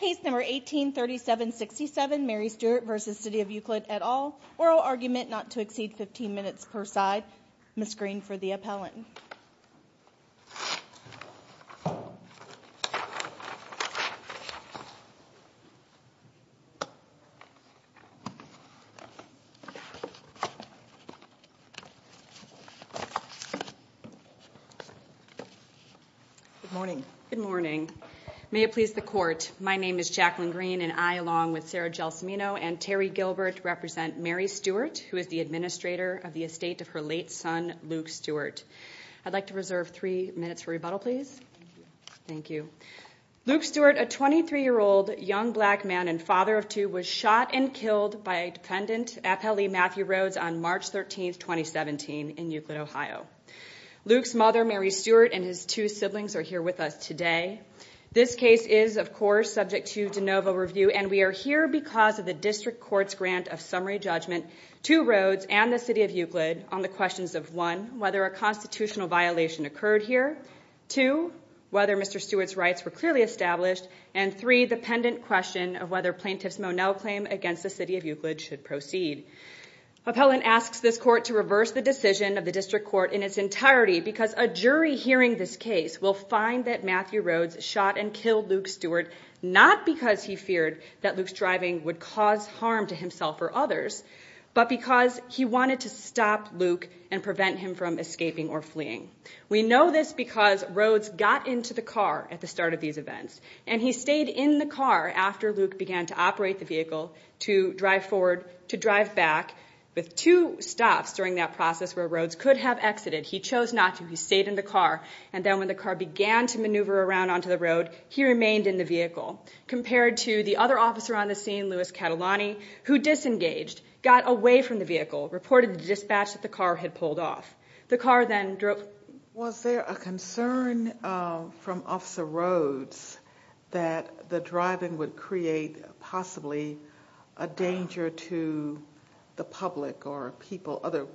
Case number 183767 Mary Stewart v. City of Euclid et al. Oral argument not to exceed 15 minutes per side. Ms. Green for the appellant. Good morning. Good morning. May it please the court, my name is Jacqueline Green and I along with Sarah Gelsomino and Terry Gilbert represent Mary Stewart who is the administrator of the estate of her late son Luke Stewart. I'd like to reserve three minutes for rebuttal, please. Thank you. Luke Stewart, a 23-year-old young black man and father of two, was shot and killed by a defendant, Appellee Matthew Rhodes, on March 13, 2017 in Euclid, Ohio. Luke's mother, Mary Stewart, and his two siblings are here with us today. This case is, of course, subject to de novo review and we are here because of the district court's grant of summary judgment to Rhodes and the City of Euclid on the questions of one, whether a constitutional violation occurred here, two, whether Mr. Stewart's rights were clearly established, and three, the pendent question of whether Plaintiff's Monell claim against the City of Euclid should proceed. Appellant asks this court to reverse the decision of the district court in its entirety because a jury hearing this case will find that Matthew Rhodes shot and killed Luke Stewart not because he feared that Luke's driving would cause harm to himself or others, but because he wanted to stop Luke and prevent him from escaping or fleeing. We know this because Rhodes got into the car at the start of these events and he stayed in the car after Luke began to operate the vehicle to drive forward, to drive back, with two stops during that process where Rhodes could have exited. He chose not to. He stayed in the car and then when the car began to maneuver around onto the road, he remained in the vehicle compared to the other officer on the scene, Louis Catalani, who disengaged, got away from the vehicle, reported to the dispatch that the car had pulled off. Was there a concern from Officer Rhodes that the driving would create possibly a danger to the public or other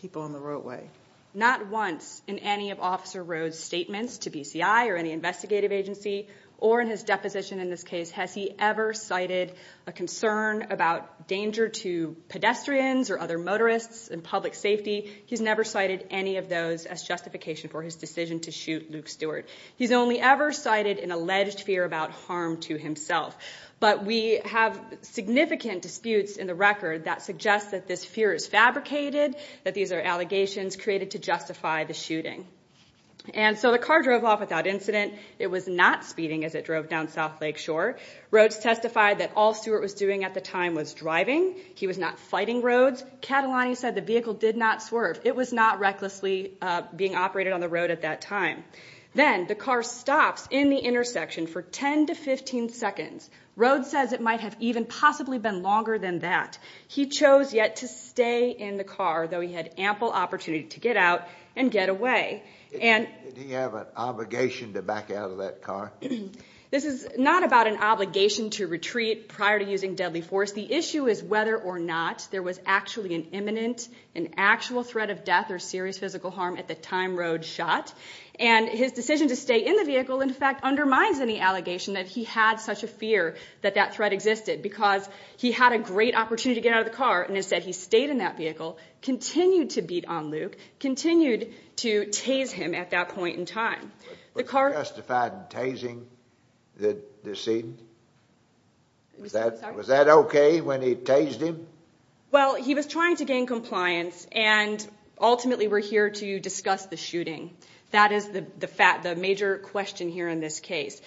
people on the roadway? Not once in any of Officer Rhodes' statements to BCI or any investigative agency or in his deposition in this case has he ever cited a concern about danger to pedestrians or other motorists and public safety. He's never cited any of those as justification for his decision to shoot Luke Stewart. He's only ever cited an alleged fear about harm to himself. But we have significant disputes in the record that suggest that this fear is fabricated, that these are allegations created to justify the shooting. And so the car drove off without incident. It was not speeding as it drove down South Lake Shore. Rhodes testified that all Stewart was doing at the time was driving. He was not fighting Rhodes. Catalani said the vehicle did not swerve. It was not recklessly being operated on the road at that time. Then the car stops in the intersection for 10 to 15 seconds. Rhodes says it might have even possibly been longer than that. He chose yet to stay in the car, though he had ample opportunity to get out and get away. Did he have an obligation to back out of that car? This is not about an obligation to retreat prior to using deadly force. The issue is whether or not there was actually an imminent, an actual threat of death or serious physical harm at the time Rhodes shot. And his decision to stay in the vehicle, in fact, undermines any allegation that he had such a fear that that threat existed because he had a great opportunity to get out of the car. And instead he stayed in that vehicle, continued to beat on Luke, continued to tase him at that point in time. Was he justified in tasing the decedent? Was that OK when he tased him? Well, he was trying to gain compliance, and ultimately we're here to discuss the shooting. That is the major question here in this case.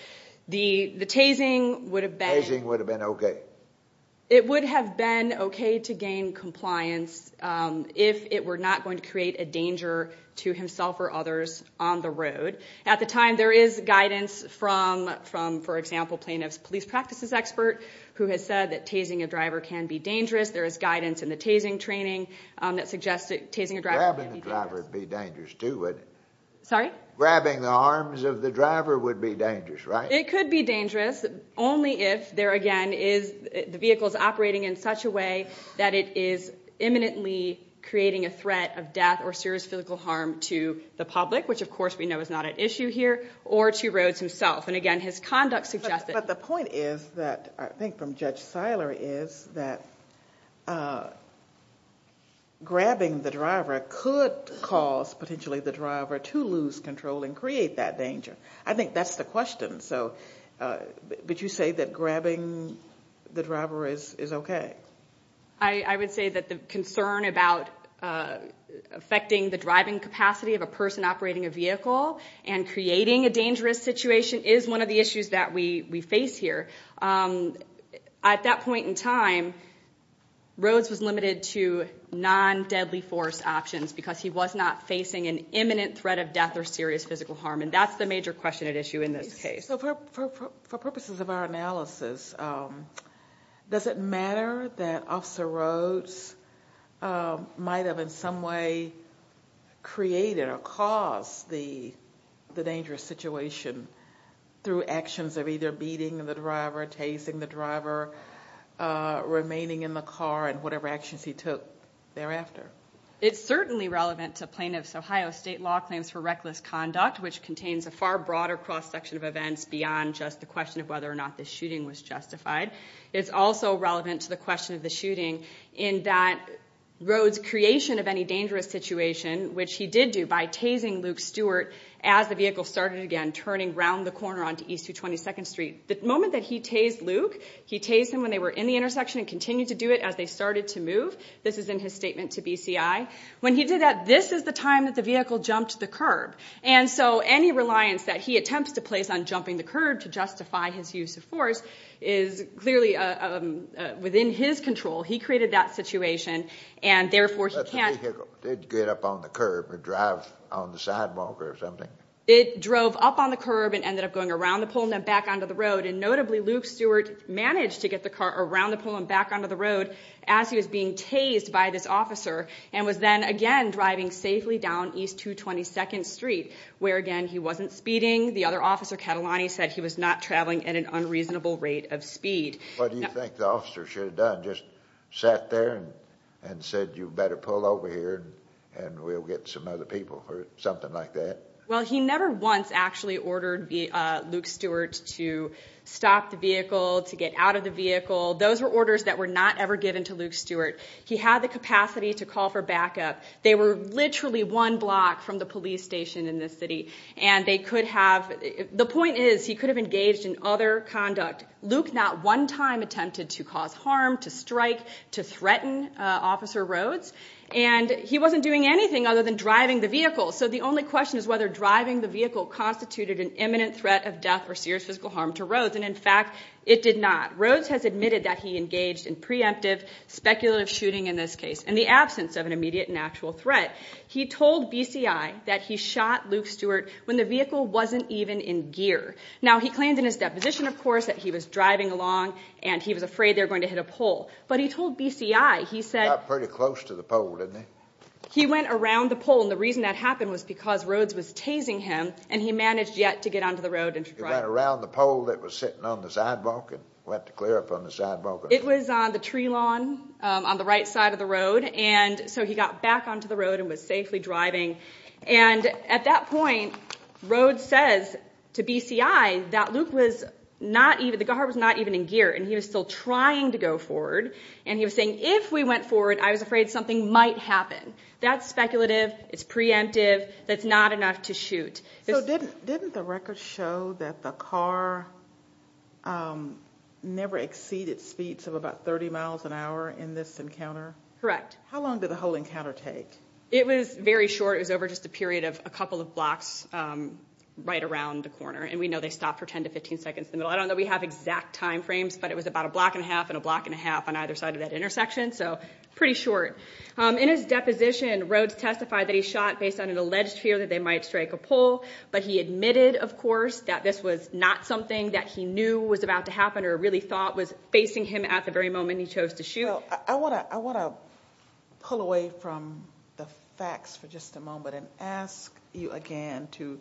The tasing would have been OK. It would have been OK to gain compliance if it were not going to create a danger to himself or others on the road. At the time, there is guidance from, for example, plaintiff's police practices expert, who has said that tasing a driver can be dangerous. There is guidance in the tasing training that suggests that tasing a driver can be dangerous. Grabbing the driver would be dangerous, too, wouldn't it? Sorry? Grabbing the arms of the driver would be dangerous, right? It could be dangerous, only if the vehicle is operating in such a way that it is imminently creating a threat of death or serious physical harm to the public, which of course we know is not at issue here, or to Rhodes himself. And again, his conduct suggests that. But the point is that, I think from Judge Seiler, is that grabbing the driver could cause potentially the driver to lose control and create that danger. I think that's the question. But you say that grabbing the driver is OK? I would say that the concern about affecting the driving capacity of a person operating a vehicle and creating a dangerous situation is one of the issues that we face here. At that point in time, Rhodes was limited to non-deadly force options because he was not facing an imminent threat of death or serious physical harm. And that's the major question at issue in this case. So for purposes of our analysis, does it matter that Officer Rhodes might have in some way created or caused the dangerous situation through actions of either beating the driver, chasing the driver, remaining in the car, and whatever actions he took thereafter? It's certainly relevant to Plaintiff's Ohio State Law Claims for Reckless Conduct, which contains a far broader cross-section of events beyond just the question of whether or not the shooting was justified. It's also relevant to the question of the shooting in that Rhodes' creation of any dangerous situation, which he did do by tasing Luke Stewart as the vehicle started again, turning around the corner onto East 22nd Street. The moment that he tased Luke, he tased him when they were in the intersection and continued to do it as they started to move. This is in his statement to BCI. When he did that, this is the time that the vehicle jumped the curb. And so any reliance that he attempts to place on jumping the curb to justify his use of force is clearly within his control. He created that situation, and therefore he can't— But the vehicle did get up on the curb and drive on the sidewalk or something. It drove up on the curb and ended up going around the pole and then back onto the road. And notably, Luke Stewart managed to get the car around the pole and back onto the road as he was being tased by this officer and was then again driving safely down East 222nd Street, where, again, he wasn't speeding. The other officer, Catalani, said he was not traveling at an unreasonable rate of speed. What do you think the officer should have done? Just sat there and said, you better pull over here and we'll get some other people or something like that? Well, he never once actually ordered Luke Stewart to stop the vehicle, to get out of the vehicle. Those were orders that were not ever given to Luke Stewart. He had the capacity to call for backup. They were literally one block from the police station in the city, and they could have— The point is he could have engaged in other conduct. Luke not one time attempted to cause harm, to strike, to threaten Officer Rhodes, and he wasn't doing anything other than driving the vehicle. So the only question is whether driving the vehicle constituted an imminent threat of death or serious physical harm to Rhodes, and, in fact, it did not. Rhodes has admitted that he engaged in preemptive speculative shooting in this case in the absence of an immediate and actual threat. He told BCI that he shot Luke Stewart when the vehicle wasn't even in gear. Now, he claimed in his deposition, of course, that he was driving along and he was afraid they were going to hit a pole. But he told BCI, he said— Got pretty close to the pole, didn't he? He went around the pole, and the reason that happened was because Rhodes was tasing him, and he managed yet to get onto the road and drive. He got around the pole that was sitting on the sidewalk and went to clear up on the sidewalk? It was on the tree lawn on the right side of the road, and so he got back onto the road and was safely driving. And at that point, Rhodes says to BCI that Luke was not even—the car was not even in gear, and he was still trying to go forward, and he was saying, If we went forward, I was afraid something might happen. That's speculative. It's preemptive. That's not enough to shoot. So didn't the record show that the car never exceeded speeds of about 30 miles an hour in this encounter? Correct. How long did the whole encounter take? It was very short. It was over just a period of a couple of blocks right around the corner, and we know they stopped for 10 to 15 seconds in the middle. I don't know that we have exact time frames, but it was about a block and a half and a block and a half on either side of that intersection, so pretty short. In his deposition, Rhodes testified that he shot based on an alleged fear that they might strike a pole, but he admitted, of course, that this was not something that he knew was about to happen or really thought was facing him at the very moment he chose to shoot. I want to pull away from the facts for just a moment and ask you again to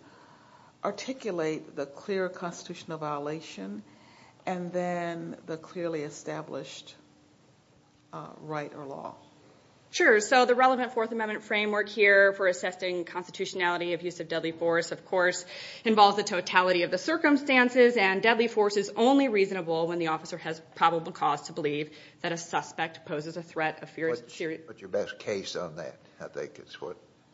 articulate the clear constitutional violation and then the clearly established right or law. Sure. So the relevant Fourth Amendment framework here for assessing constitutionality of use of deadly force, of course, involves the totality of the circumstances, and deadly force is only reasonable when the officer has probable cause to believe that a suspect poses a threat of serious— What's your best case on that?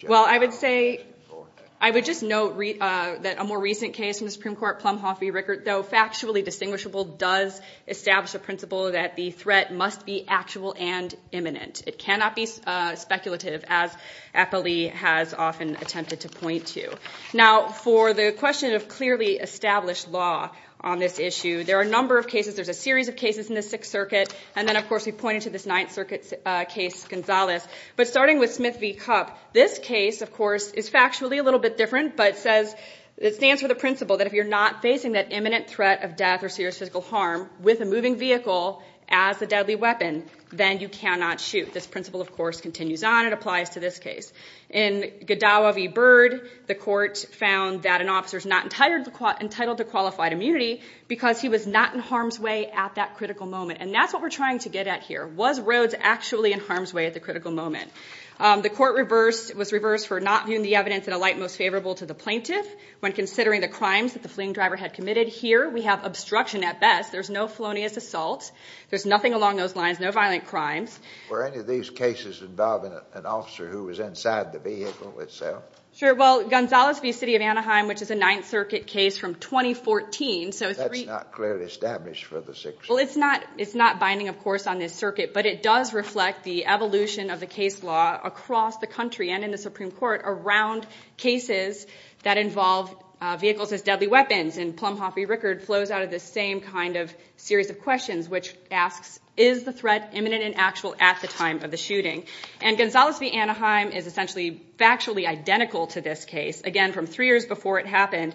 Well, I would say—I would just note that a more recent case in the Supreme Court, Plumhoff v. Rickert, though factually distinguishable, does establish a principle that the threat must be actual and imminent. It cannot be speculative, as Eppley has often attempted to point to. Now, for the question of clearly established law on this issue, there are a number of cases. There's a series of cases in the Sixth Circuit, and then, of course, we pointed to this Ninth Circuit case, Gonzales. But starting with Smith v. Cup, this case, of course, is factually a little bit different, but it says—it stands for the principle that if you're not facing that imminent threat of death or serious physical harm with a moving vehicle as a deadly weapon, then you cannot shoot. This principle, of course, continues on and applies to this case. In Godowa v. Bird, the court found that an officer is not entitled to qualified immunity because he was not in harm's way at that critical moment. And that's what we're trying to get at here. Was Rhodes actually in harm's way at the critical moment? The court reversed—was reversed for not viewing the evidence in a light most favorable to the plaintiff when considering the crimes that the fleeing driver had committed. Here, we have obstruction at best. There's no felonious assault. There's nothing along those lines, no violent crimes. Were any of these cases involving an officer who was inside the vehicle itself? Sure. Well, Gonzales v. City of Anaheim, which is a Ninth Circuit case from 2014— That's not clearly established for the Sixth Circuit. Well, it's not—it's not binding, of course, on this circuit, but it does reflect the evolution of the case law across the country and in the Supreme Court around cases that involve vehicles as deadly weapons. And Plumhoff v. Rickard flows out of this same kind of series of questions, which asks, is the threat imminent and actual at the time of the shooting? And Gonzales v. Anaheim is essentially factually identical to this case, again, from three years before it happened.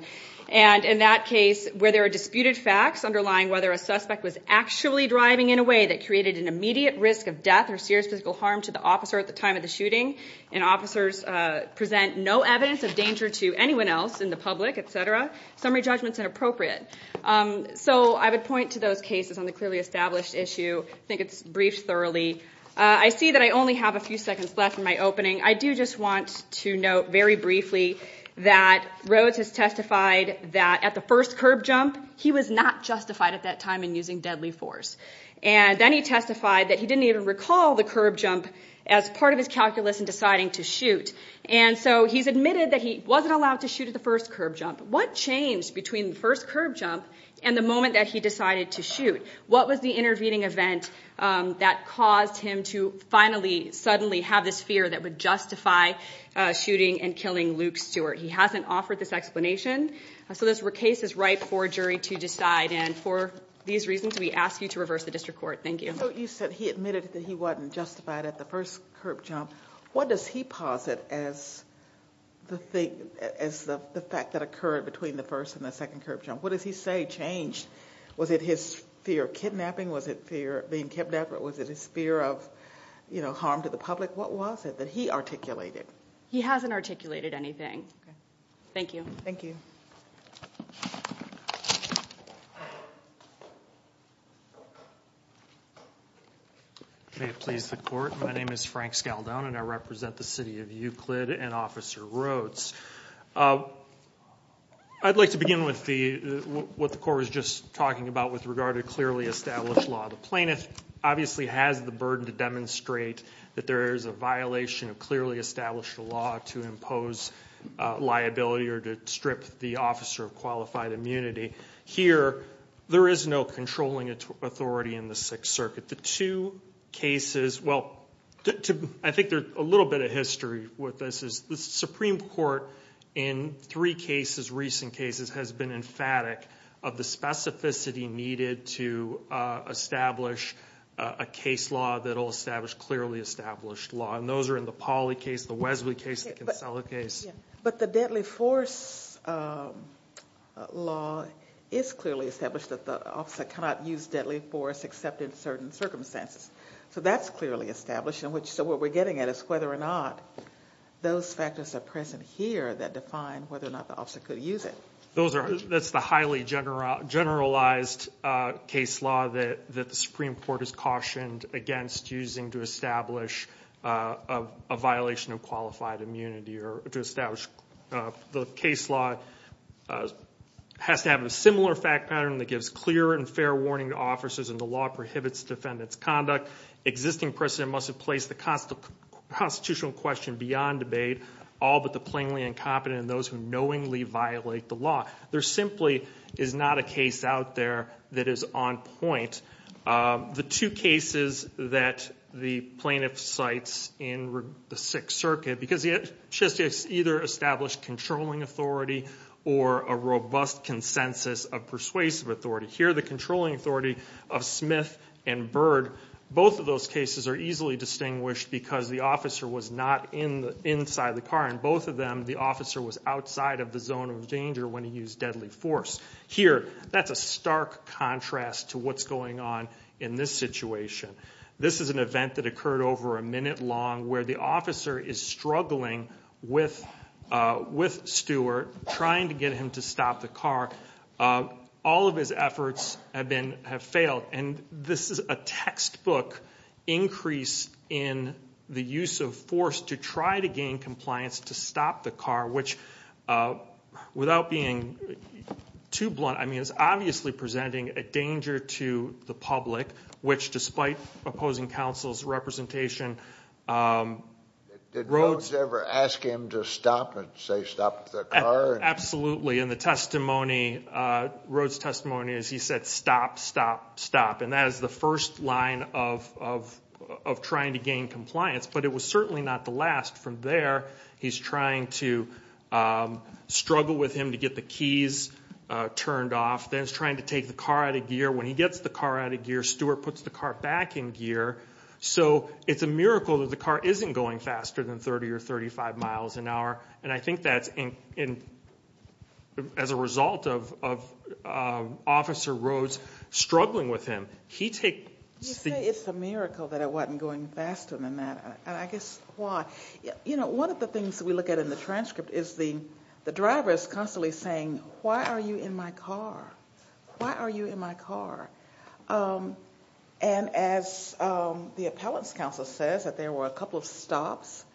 And in that case, where there are disputed facts underlying whether a suspect was actually driving in a way that created an immediate risk of death or serious physical harm to the officer at the time of the shooting, and officers present no evidence of danger to anyone else in the public, etc., summary judgment is inappropriate. So I would point to those cases on the clearly established issue. I think it's briefed thoroughly. I see that I only have a few seconds left in my opening. I do just want to note very briefly that Rhodes has testified that at the first curb jump, he was not justified at that time in using deadly force. And then he testified that he didn't even recall the curb jump as part of his calculus in deciding to shoot. And so he's admitted that he wasn't allowed to shoot at the first curb jump. What changed between the first curb jump and the moment that he decided to shoot? What was the intervening event that caused him to finally suddenly have this fear that would justify shooting and killing Luke Stewart? He hasn't offered this explanation. So this case is ripe for a jury to decide. And for these reasons, we ask you to reverse the district court. Thank you. So you said he admitted that he wasn't justified at the first curb jump. What does he posit as the fact that occurred between the first and the second curb jump? What does he say changed? Was it his fear of kidnapping? Was it fear of being kidnapped? Or was it his fear of harm to the public? What was it that he articulated? He hasn't articulated anything. Thank you. Thank you. May it please the court, my name is Frank Scaldone, and I represent the city of Euclid and Officer Rhodes. I'd like to begin with what the court was just talking about with regard to clearly established law. The plaintiff obviously has the burden to demonstrate that there is a violation of clearly established law to impose liability or to strip the officer of qualified immunity. Here, there is no controlling authority in the Sixth Circuit. The two cases, well, I think there's a little bit of history with this. The Supreme Court in three cases, recent cases, has been emphatic of the specificity needed to establish a case law that will establish clearly established law, and those are in the Pauley case, the Wesley case, the Kinsella case. But the deadly force law is clearly established that the officer cannot use deadly force except in certain circumstances. So that's clearly established. So what we're getting at is whether or not those factors are present here that define whether or not the officer could use it. That's the highly generalized case law that the Supreme Court has cautioned against using to establish a violation of qualified immunity or to establish the case law has to have a similar fact pattern that gives clear and fair warning to officers and the law prohibits defendant's conduct. Existing precedent must have placed the constitutional question beyond debate, all but the plainly incompetent and those who knowingly violate the law. There simply is not a case out there that is on point. The two cases that the plaintiff cites in the Sixth Circuit, because it's just either established controlling authority or a robust consensus of persuasive authority. Here the controlling authority of Smith and Bird, both of those cases are easily distinguished because the officer was not inside the car. In both of them the officer was outside of the zone of danger when he used deadly force. Here that's a stark contrast to what's going on in this situation. This is an event that occurred over a minute long where the officer is struggling with Stewart, trying to get him to stop the car. All of his efforts have failed. This is a textbook increase in the use of force to try to gain compliance to stop the car, which without being too blunt is obviously presenting a danger to the public, which despite opposing counsel's representation. Did Rhodes ever ask him to stop and say stop the car? Absolutely. Rhodes' testimony is he said stop, stop, stop. That is the first line of trying to gain compliance, but it was certainly not the last. From there he's trying to struggle with him to get the keys turned off. Then he's trying to take the car out of gear. When he gets the car out of gear, Stewart puts the car back in gear. It's a miracle that the car isn't going faster than 30 or 35 miles an hour. I think that's as a result of Officer Rhodes struggling with him. You say it's a miracle that it wasn't going faster than that. I guess why? One of the things we look at in the transcript is the driver is constantly saying, why are you in my car? Why are you in my car? As the appellant's counsel says that there were a couple of stops,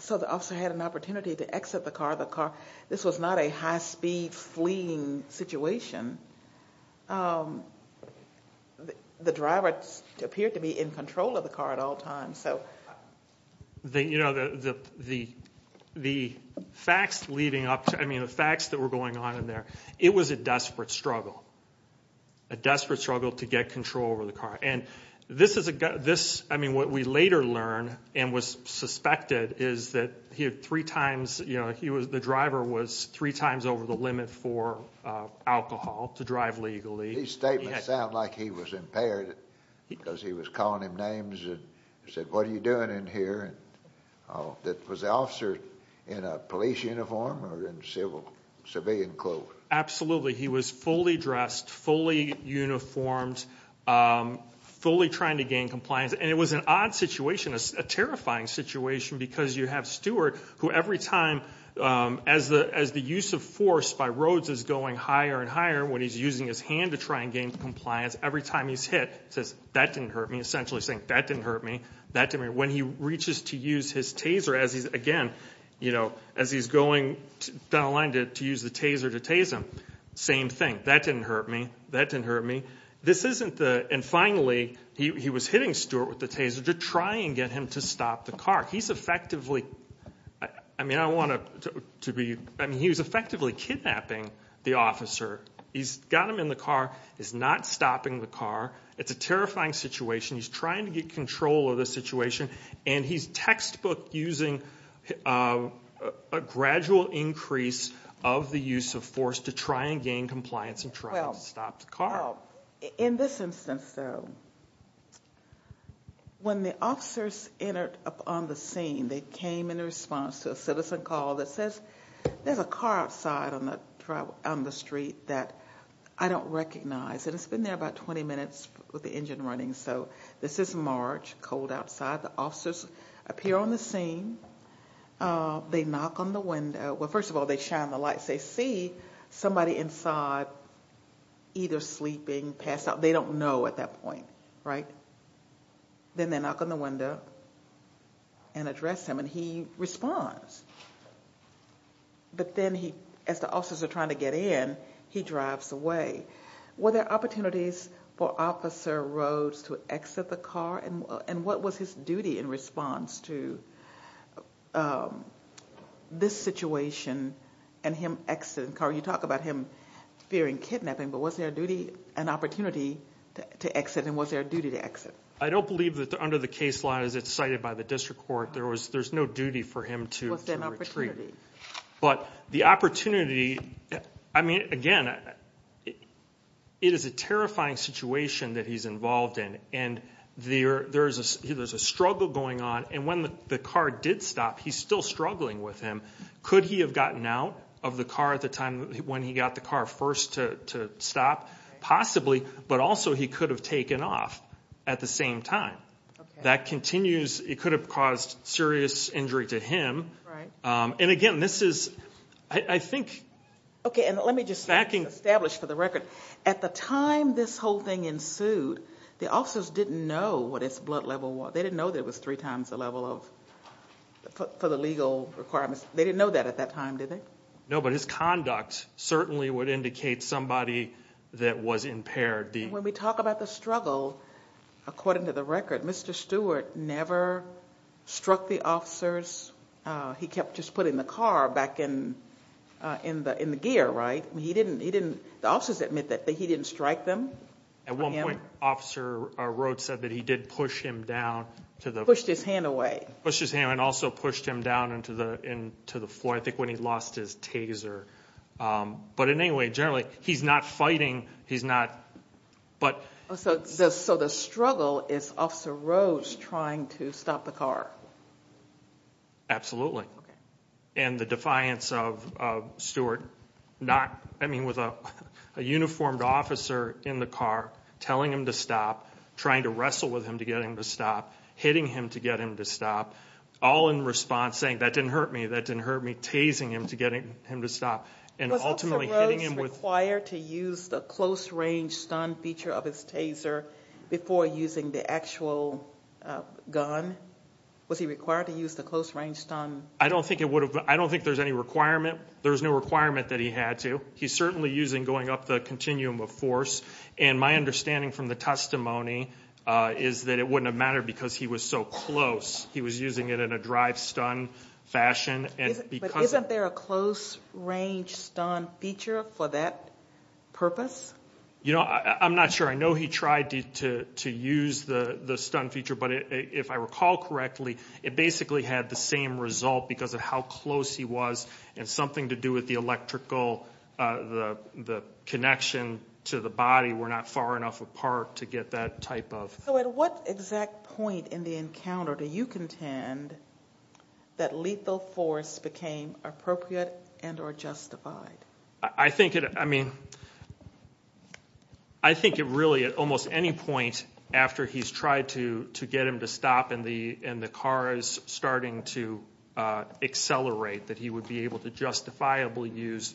so the officer had an opportunity to exit the car. This was not a high-speed fleeing situation. The driver appeared to be in control of the car at all times. The facts that were going on in there, it was a desperate struggle, a desperate struggle to get control over the car. What we later learn and was suspected is that the driver was three times over the limit for alcohol to drive legally. These statements sound like he was impaired because he was calling him names and said, what are you doing in here? Was the officer in a police uniform or in civilian clothes? Absolutely. He was fully dressed, fully uniformed, fully trying to gain compliance. It was an odd situation, a terrifying situation, because you have Stewart who every time, as the use of force by Rhodes is going higher and higher, when he's using his hand to try and gain compliance, every time he's hit, says, that didn't hurt me, essentially saying, that didn't hurt me. When he reaches to use his taser, again, as he's going down the line to use the taser to tase him, same thing, that didn't hurt me, that didn't hurt me. And finally, he was hitting Stewart with the taser to try and get him to stop the car. He's effectively kidnapping the officer. He's got him in the car, he's not stopping the car. It's a terrifying situation. He's trying to get control of the situation, and he's textbook using a gradual increase of the use of force to try and gain compliance and try to stop the car. In this instance, though, when the officers entered upon the scene, they came in response to a citizen call that says, there's a car outside on the street that I don't recognize. And it's been there about 20 minutes with the engine running. So this is March, cold outside. The officers appear on the scene. They knock on the window. Well, first of all, they shine the lights. They see somebody inside, either sleeping, passed out. They don't know at that point, right? Then they knock on the window and address him, and he responds. But then as the officers are trying to get in, he drives away. Were there opportunities for Officer Rhodes to exit the car? And what was his duty in response to this situation and him exiting the car? You talk about him fearing kidnapping, but was there an opportunity to exit, and was there a duty to exit? I don't believe that under the case law, as it's cited by the district court, there's no duty for him to retreat. Was there an opportunity? But the opportunity, I mean, again, it is a terrifying situation that he's involved in, and there's a struggle going on, and when the car did stop, he's still struggling with him. Could he have gotten out of the car at the time when he got the car first to stop? Possibly, but also he could have taken off at the same time. That continues. It could have caused serious injury to him. And again, this is, I think, stacking. Let me just establish for the record, at the time this whole thing ensued, the officers didn't know what his blood level was. They didn't know that it was three times the level for the legal requirements. They didn't know that at that time, did they? No, but his conduct certainly would indicate somebody that was impaired. When we talk about the struggle, according to the record, Mr. Stewart never struck the officers. He kept just putting the car back in the gear, right? The officers admit that he didn't strike them. At one point, Officer Rhodes said that he did push him down. Pushed his hand away. Pushed his hand and also pushed him down into the floor, I think when he lost his taser. But anyway, generally, he's not fighting. So the struggle is Officer Rhodes trying to stop the car? Absolutely. And the defiance of Stewart, I mean, with a uniformed officer in the car telling him to stop, trying to wrestle with him to get him to stop, hitting him to get him to stop, all in response saying, that didn't hurt me, that didn't hurt me, tasing him to get him to stop. Was Officer Rhodes required to use the close-range stun feature of his taser before using the actual gun? Was he required to use the close-range stun? I don't think there's any requirement. There was no requirement that he had to. He's certainly using, going up the continuum of force. And my understanding from the testimony is that it wouldn't have mattered because he was so close. He was using it in a drive-stun fashion. But isn't there a close-range stun feature for that purpose? You know, I'm not sure. I know he tried to use the stun feature, but if I recall correctly, it basically had the same result because of how close he was and something to do with the electrical, the connection to the body. We're not far enough apart to get that type of. So at what exact point in the encounter do you contend that lethal force became appropriate and or justified? I think it, I mean, I think it really at almost any point after he's tried to get him to stop and the car is starting to accelerate that he would be able to justifiably use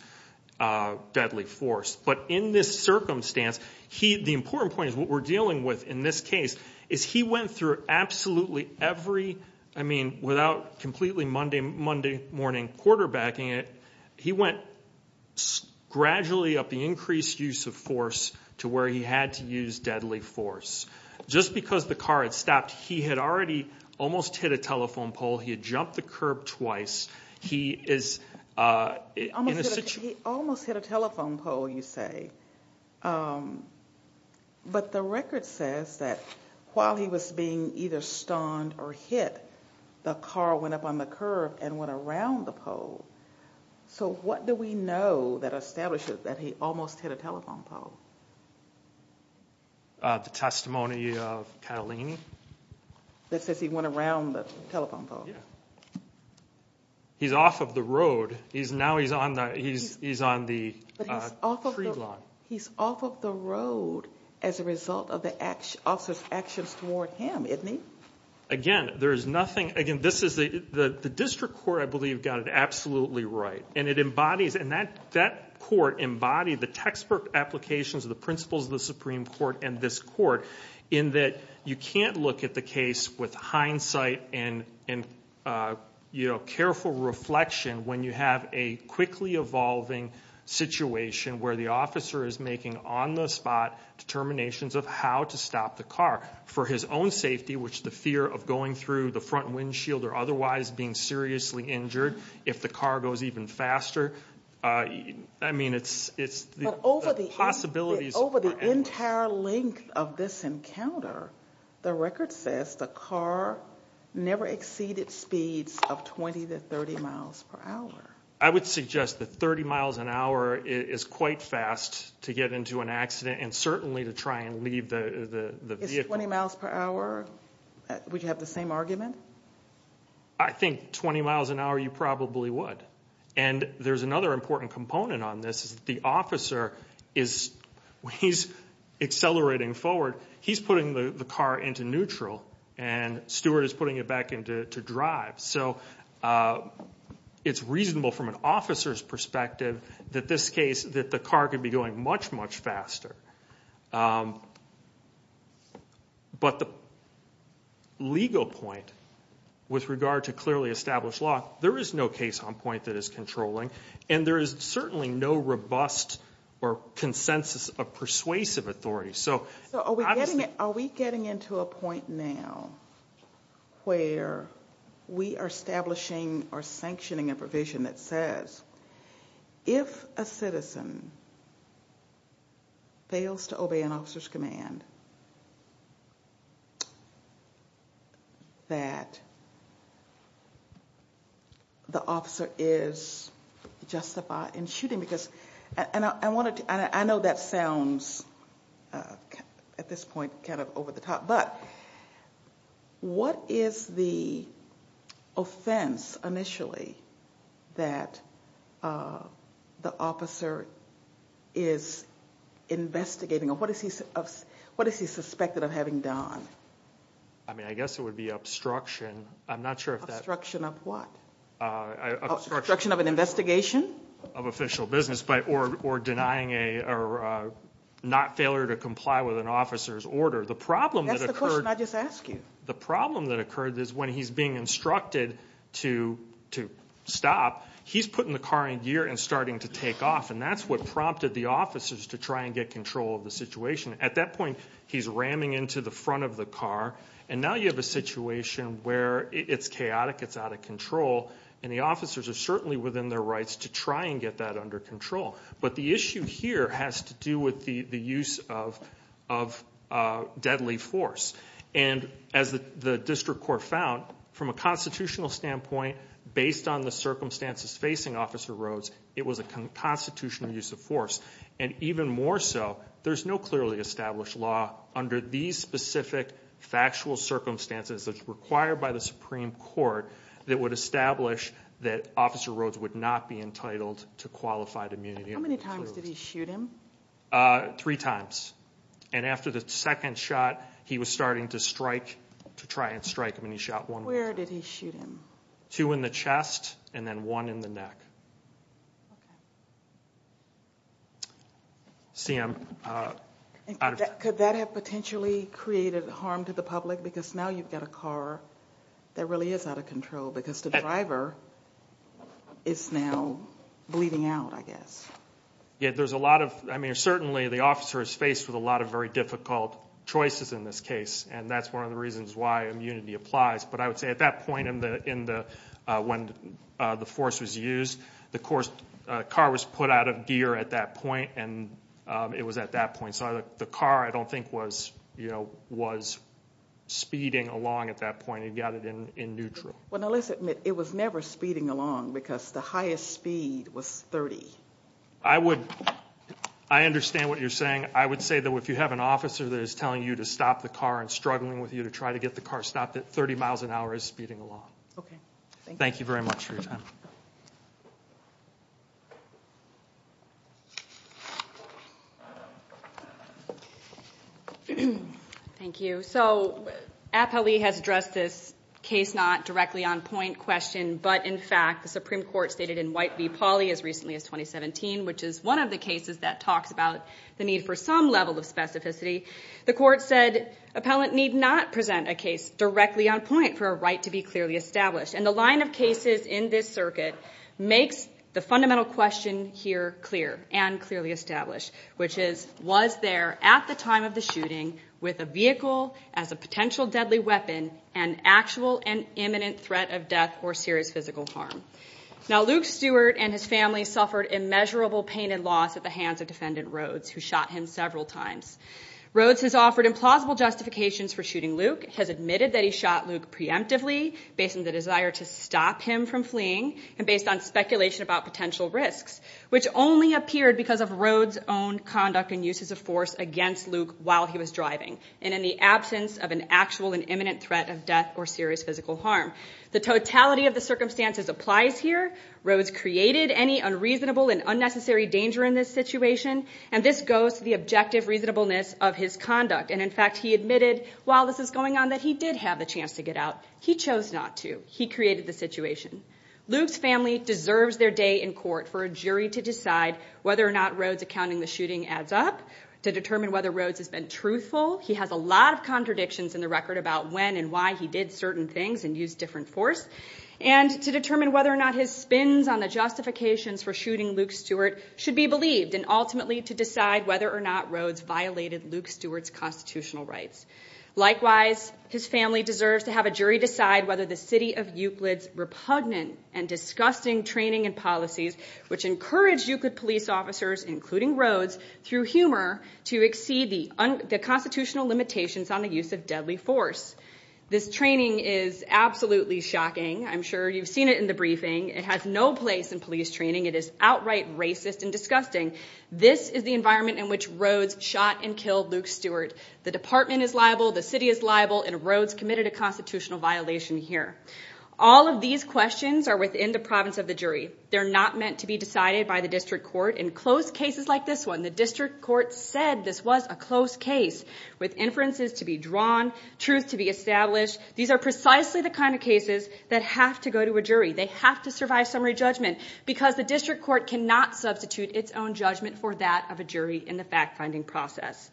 deadly force. But in this circumstance, he, the important point is what we're dealing with in this case, is he went through absolutely every, I mean, without completely Monday morning quarterbacking it, he went gradually up the increased use of force to where he had to use deadly force. Just because the car had stopped, he had already almost hit a telephone pole. He had jumped the curb twice. He almost hit a telephone pole, you say. But the record says that while he was being either stunned or hit, the car went up on the curb and went around the pole. So what do we know that establishes that he almost hit a telephone pole? The testimony of Catalini? That says he went around the telephone pole. He's off of the road. Now he's on the tree line. He's off of the road as a result of the officer's actions toward him, isn't he? Again, there is nothing, again, this is the district court, I believe, got it absolutely right. And it embodies, and that court embodied the textbook applications of the principles of the Supreme Court and this court in that you can't look at the case with hindsight and careful reflection when you have a quickly evolving situation where the officer is making on-the-spot determinations of how to stop the car for his own safety, which the fear of going through the front windshield or otherwise being seriously injured if the car goes even faster. I mean, it's the possibilities. But over the entire length of this encounter, the record says the car never exceeded speeds of 20 to 30 miles per hour. I would suggest that 30 miles an hour is quite fast to get into an accident and certainly to try and leave the vehicle. Is 20 miles per hour, would you have the same argument? I think 20 miles an hour you probably would. And there's another important component on this is the officer is, when he's accelerating forward, he's putting the car into neutral and Stewart is putting it back into drive. So it's reasonable from an officer's perspective that this case, that the car could be going much, much faster. But the legal point with regard to clearly established law, there is no case on point that is controlling and there is certainly no robust or consensus of persuasive authority. So are we getting into a point now where we are establishing or sanctioning a provision that says, if a citizen fails to obey an officer's command, that the officer is justified in shooting? I know that sounds at this point kind of over the top, but what is the offense initially that the officer is investigating? What is he suspected of having done? I mean, I guess it would be obstruction. Obstruction of what? Obstruction of an investigation? Of official business or denying or not failure to comply with an officer's order. That's the question I just asked you. The problem that occurred is when he's being instructed to stop, he's putting the car in gear and starting to take off, and that's what prompted the officers to try and get control of the situation. At that point, he's ramming into the front of the car, and now you have a situation where it's chaotic, it's out of control, and the officers are certainly within their rights to try and get that under control. But the issue here has to do with the use of deadly force. And as the district court found, from a constitutional standpoint, based on the circumstances facing Officer Rhodes, it was a constitutional use of force. And even more so, there's no clearly established law under these specific factual circumstances that's required by the Supreme Court that would establish that Officer Rhodes would not be entitled to qualified immunity. How many times did he shoot him? Three times. And after the second shot, he was starting to try and strike him, and he shot one more. Where did he shoot him? Two in the chest and then one in the neck. Okay. CM. Could that have potentially created harm to the public? Because now you've got a car that really is out of control because the driver is now bleeding out, I guess. Yeah, there's a lot of, I mean, certainly the officer is faced with a lot of very difficult choices in this case, and that's one of the reasons why immunity applies. But I would say at that point when the force was used, the car was put out of gear at that point, and it was at that point. So the car, I don't think, was speeding along at that point. It got it in neutral. Well, now let's admit it was never speeding along because the highest speed was 30. I understand what you're saying. I would say that if you have an officer that is telling you to stop the car and struggling with you to try to get the car stopped, that 30 miles an hour is speeding along. Okay. Thank you very much for your time. Thank you. So Appellee has addressed this case not directly on point question, but in fact the Supreme Court stated in White v. Pauley as recently as 2017, which is one of the cases that talks about the need for some level of specificity, the Court said, Appellant need not present a case directly on point for a right to be clearly established. And the line of cases in this circuit makes the fundamental question here clear and clearly established, which is, was there at the time of the shooting with a vehicle as a potential deadly weapon and actual and imminent threat of death or serious physical harm? Now Luke Stewart and his family suffered immeasurable pain and loss at the hands of Defendant Rhodes, who shot him several times. Rhodes has offered implausible justifications for shooting Luke, has admitted that he shot Luke preemptively based on the desire to stop him from fleeing and based on speculation about potential risks, which only appeared because of Rhodes' own conduct and uses of force against Luke while he was driving and in the absence of an actual and imminent threat of death or serious physical harm. The totality of the circumstances applies here. Rhodes created any unreasonable and unnecessary danger in this situation, and this goes to the objective reasonableness of his conduct. And, in fact, he admitted while this was going on that he did have the chance to get out. He chose not to. He created the situation. Luke's family deserves their day in court for a jury to decide whether or not Rhodes' accounting of the shooting adds up, to determine whether Rhodes has been truthful. He has a lot of contradictions in the record about when and why he did certain things and used different force, and to determine whether or not his spins on the justifications for shooting Luke Stewart should be believed and ultimately to decide whether or not Rhodes violated Luke Stewart's constitutional rights. Likewise, his family deserves to have a jury decide whether the city of Euclid's repugnant and disgusting training and policies, which encouraged Euclid police officers, including Rhodes, through humor to exceed the constitutional limitations on the use of deadly force. This training is absolutely shocking. I'm sure you've seen it in the briefing. It has no place in police training. It is outright racist and disgusting. This is the environment in which Rhodes shot and killed Luke Stewart. The department is liable, the city is liable, and Rhodes committed a constitutional violation here. All of these questions are within the province of the jury. They're not meant to be decided by the district court. In close cases like this one, the district court said this was a close case with inferences to be drawn, truth to be established. These are precisely the kind of cases that have to go to a jury. They have to survive summary judgment because the district court cannot substitute its own judgment for that of a jury in the fact-finding process.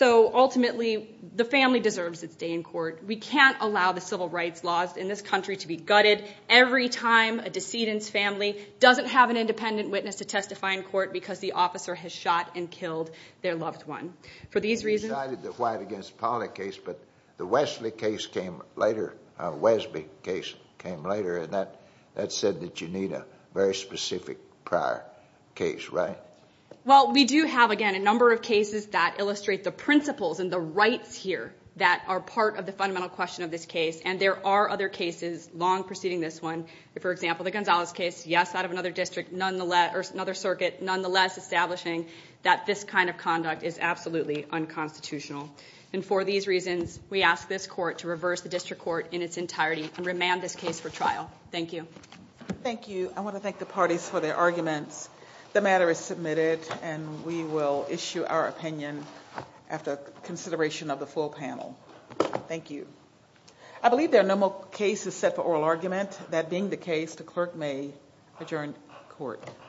Ultimately, the family deserves its day in court. We can't allow the civil rights laws in this country to be gutted every time a decedent's family doesn't have an independent witness to testify in court because the officer has shot and killed their loved one. For these reasons— The Westby case came later, and that said that you need a very specific prior case, right? Well, we do have, again, a number of cases that illustrate the principles and the rights here that are part of the fundamental question of this case, and there are other cases long preceding this one. For example, the Gonzales case, yes, out of another district, nonetheless—or another circuit, nonetheless establishing that this kind of conduct is absolutely unconstitutional. And for these reasons, we ask this court to reverse the district court in its entirety and remand this case for trial. Thank you. Thank you. I want to thank the parties for their arguments. The matter is submitted, and we will issue our opinion after consideration of the full panel. Thank you. I believe there are no more cases set for oral argument. That being the case, the clerk may adjourn court.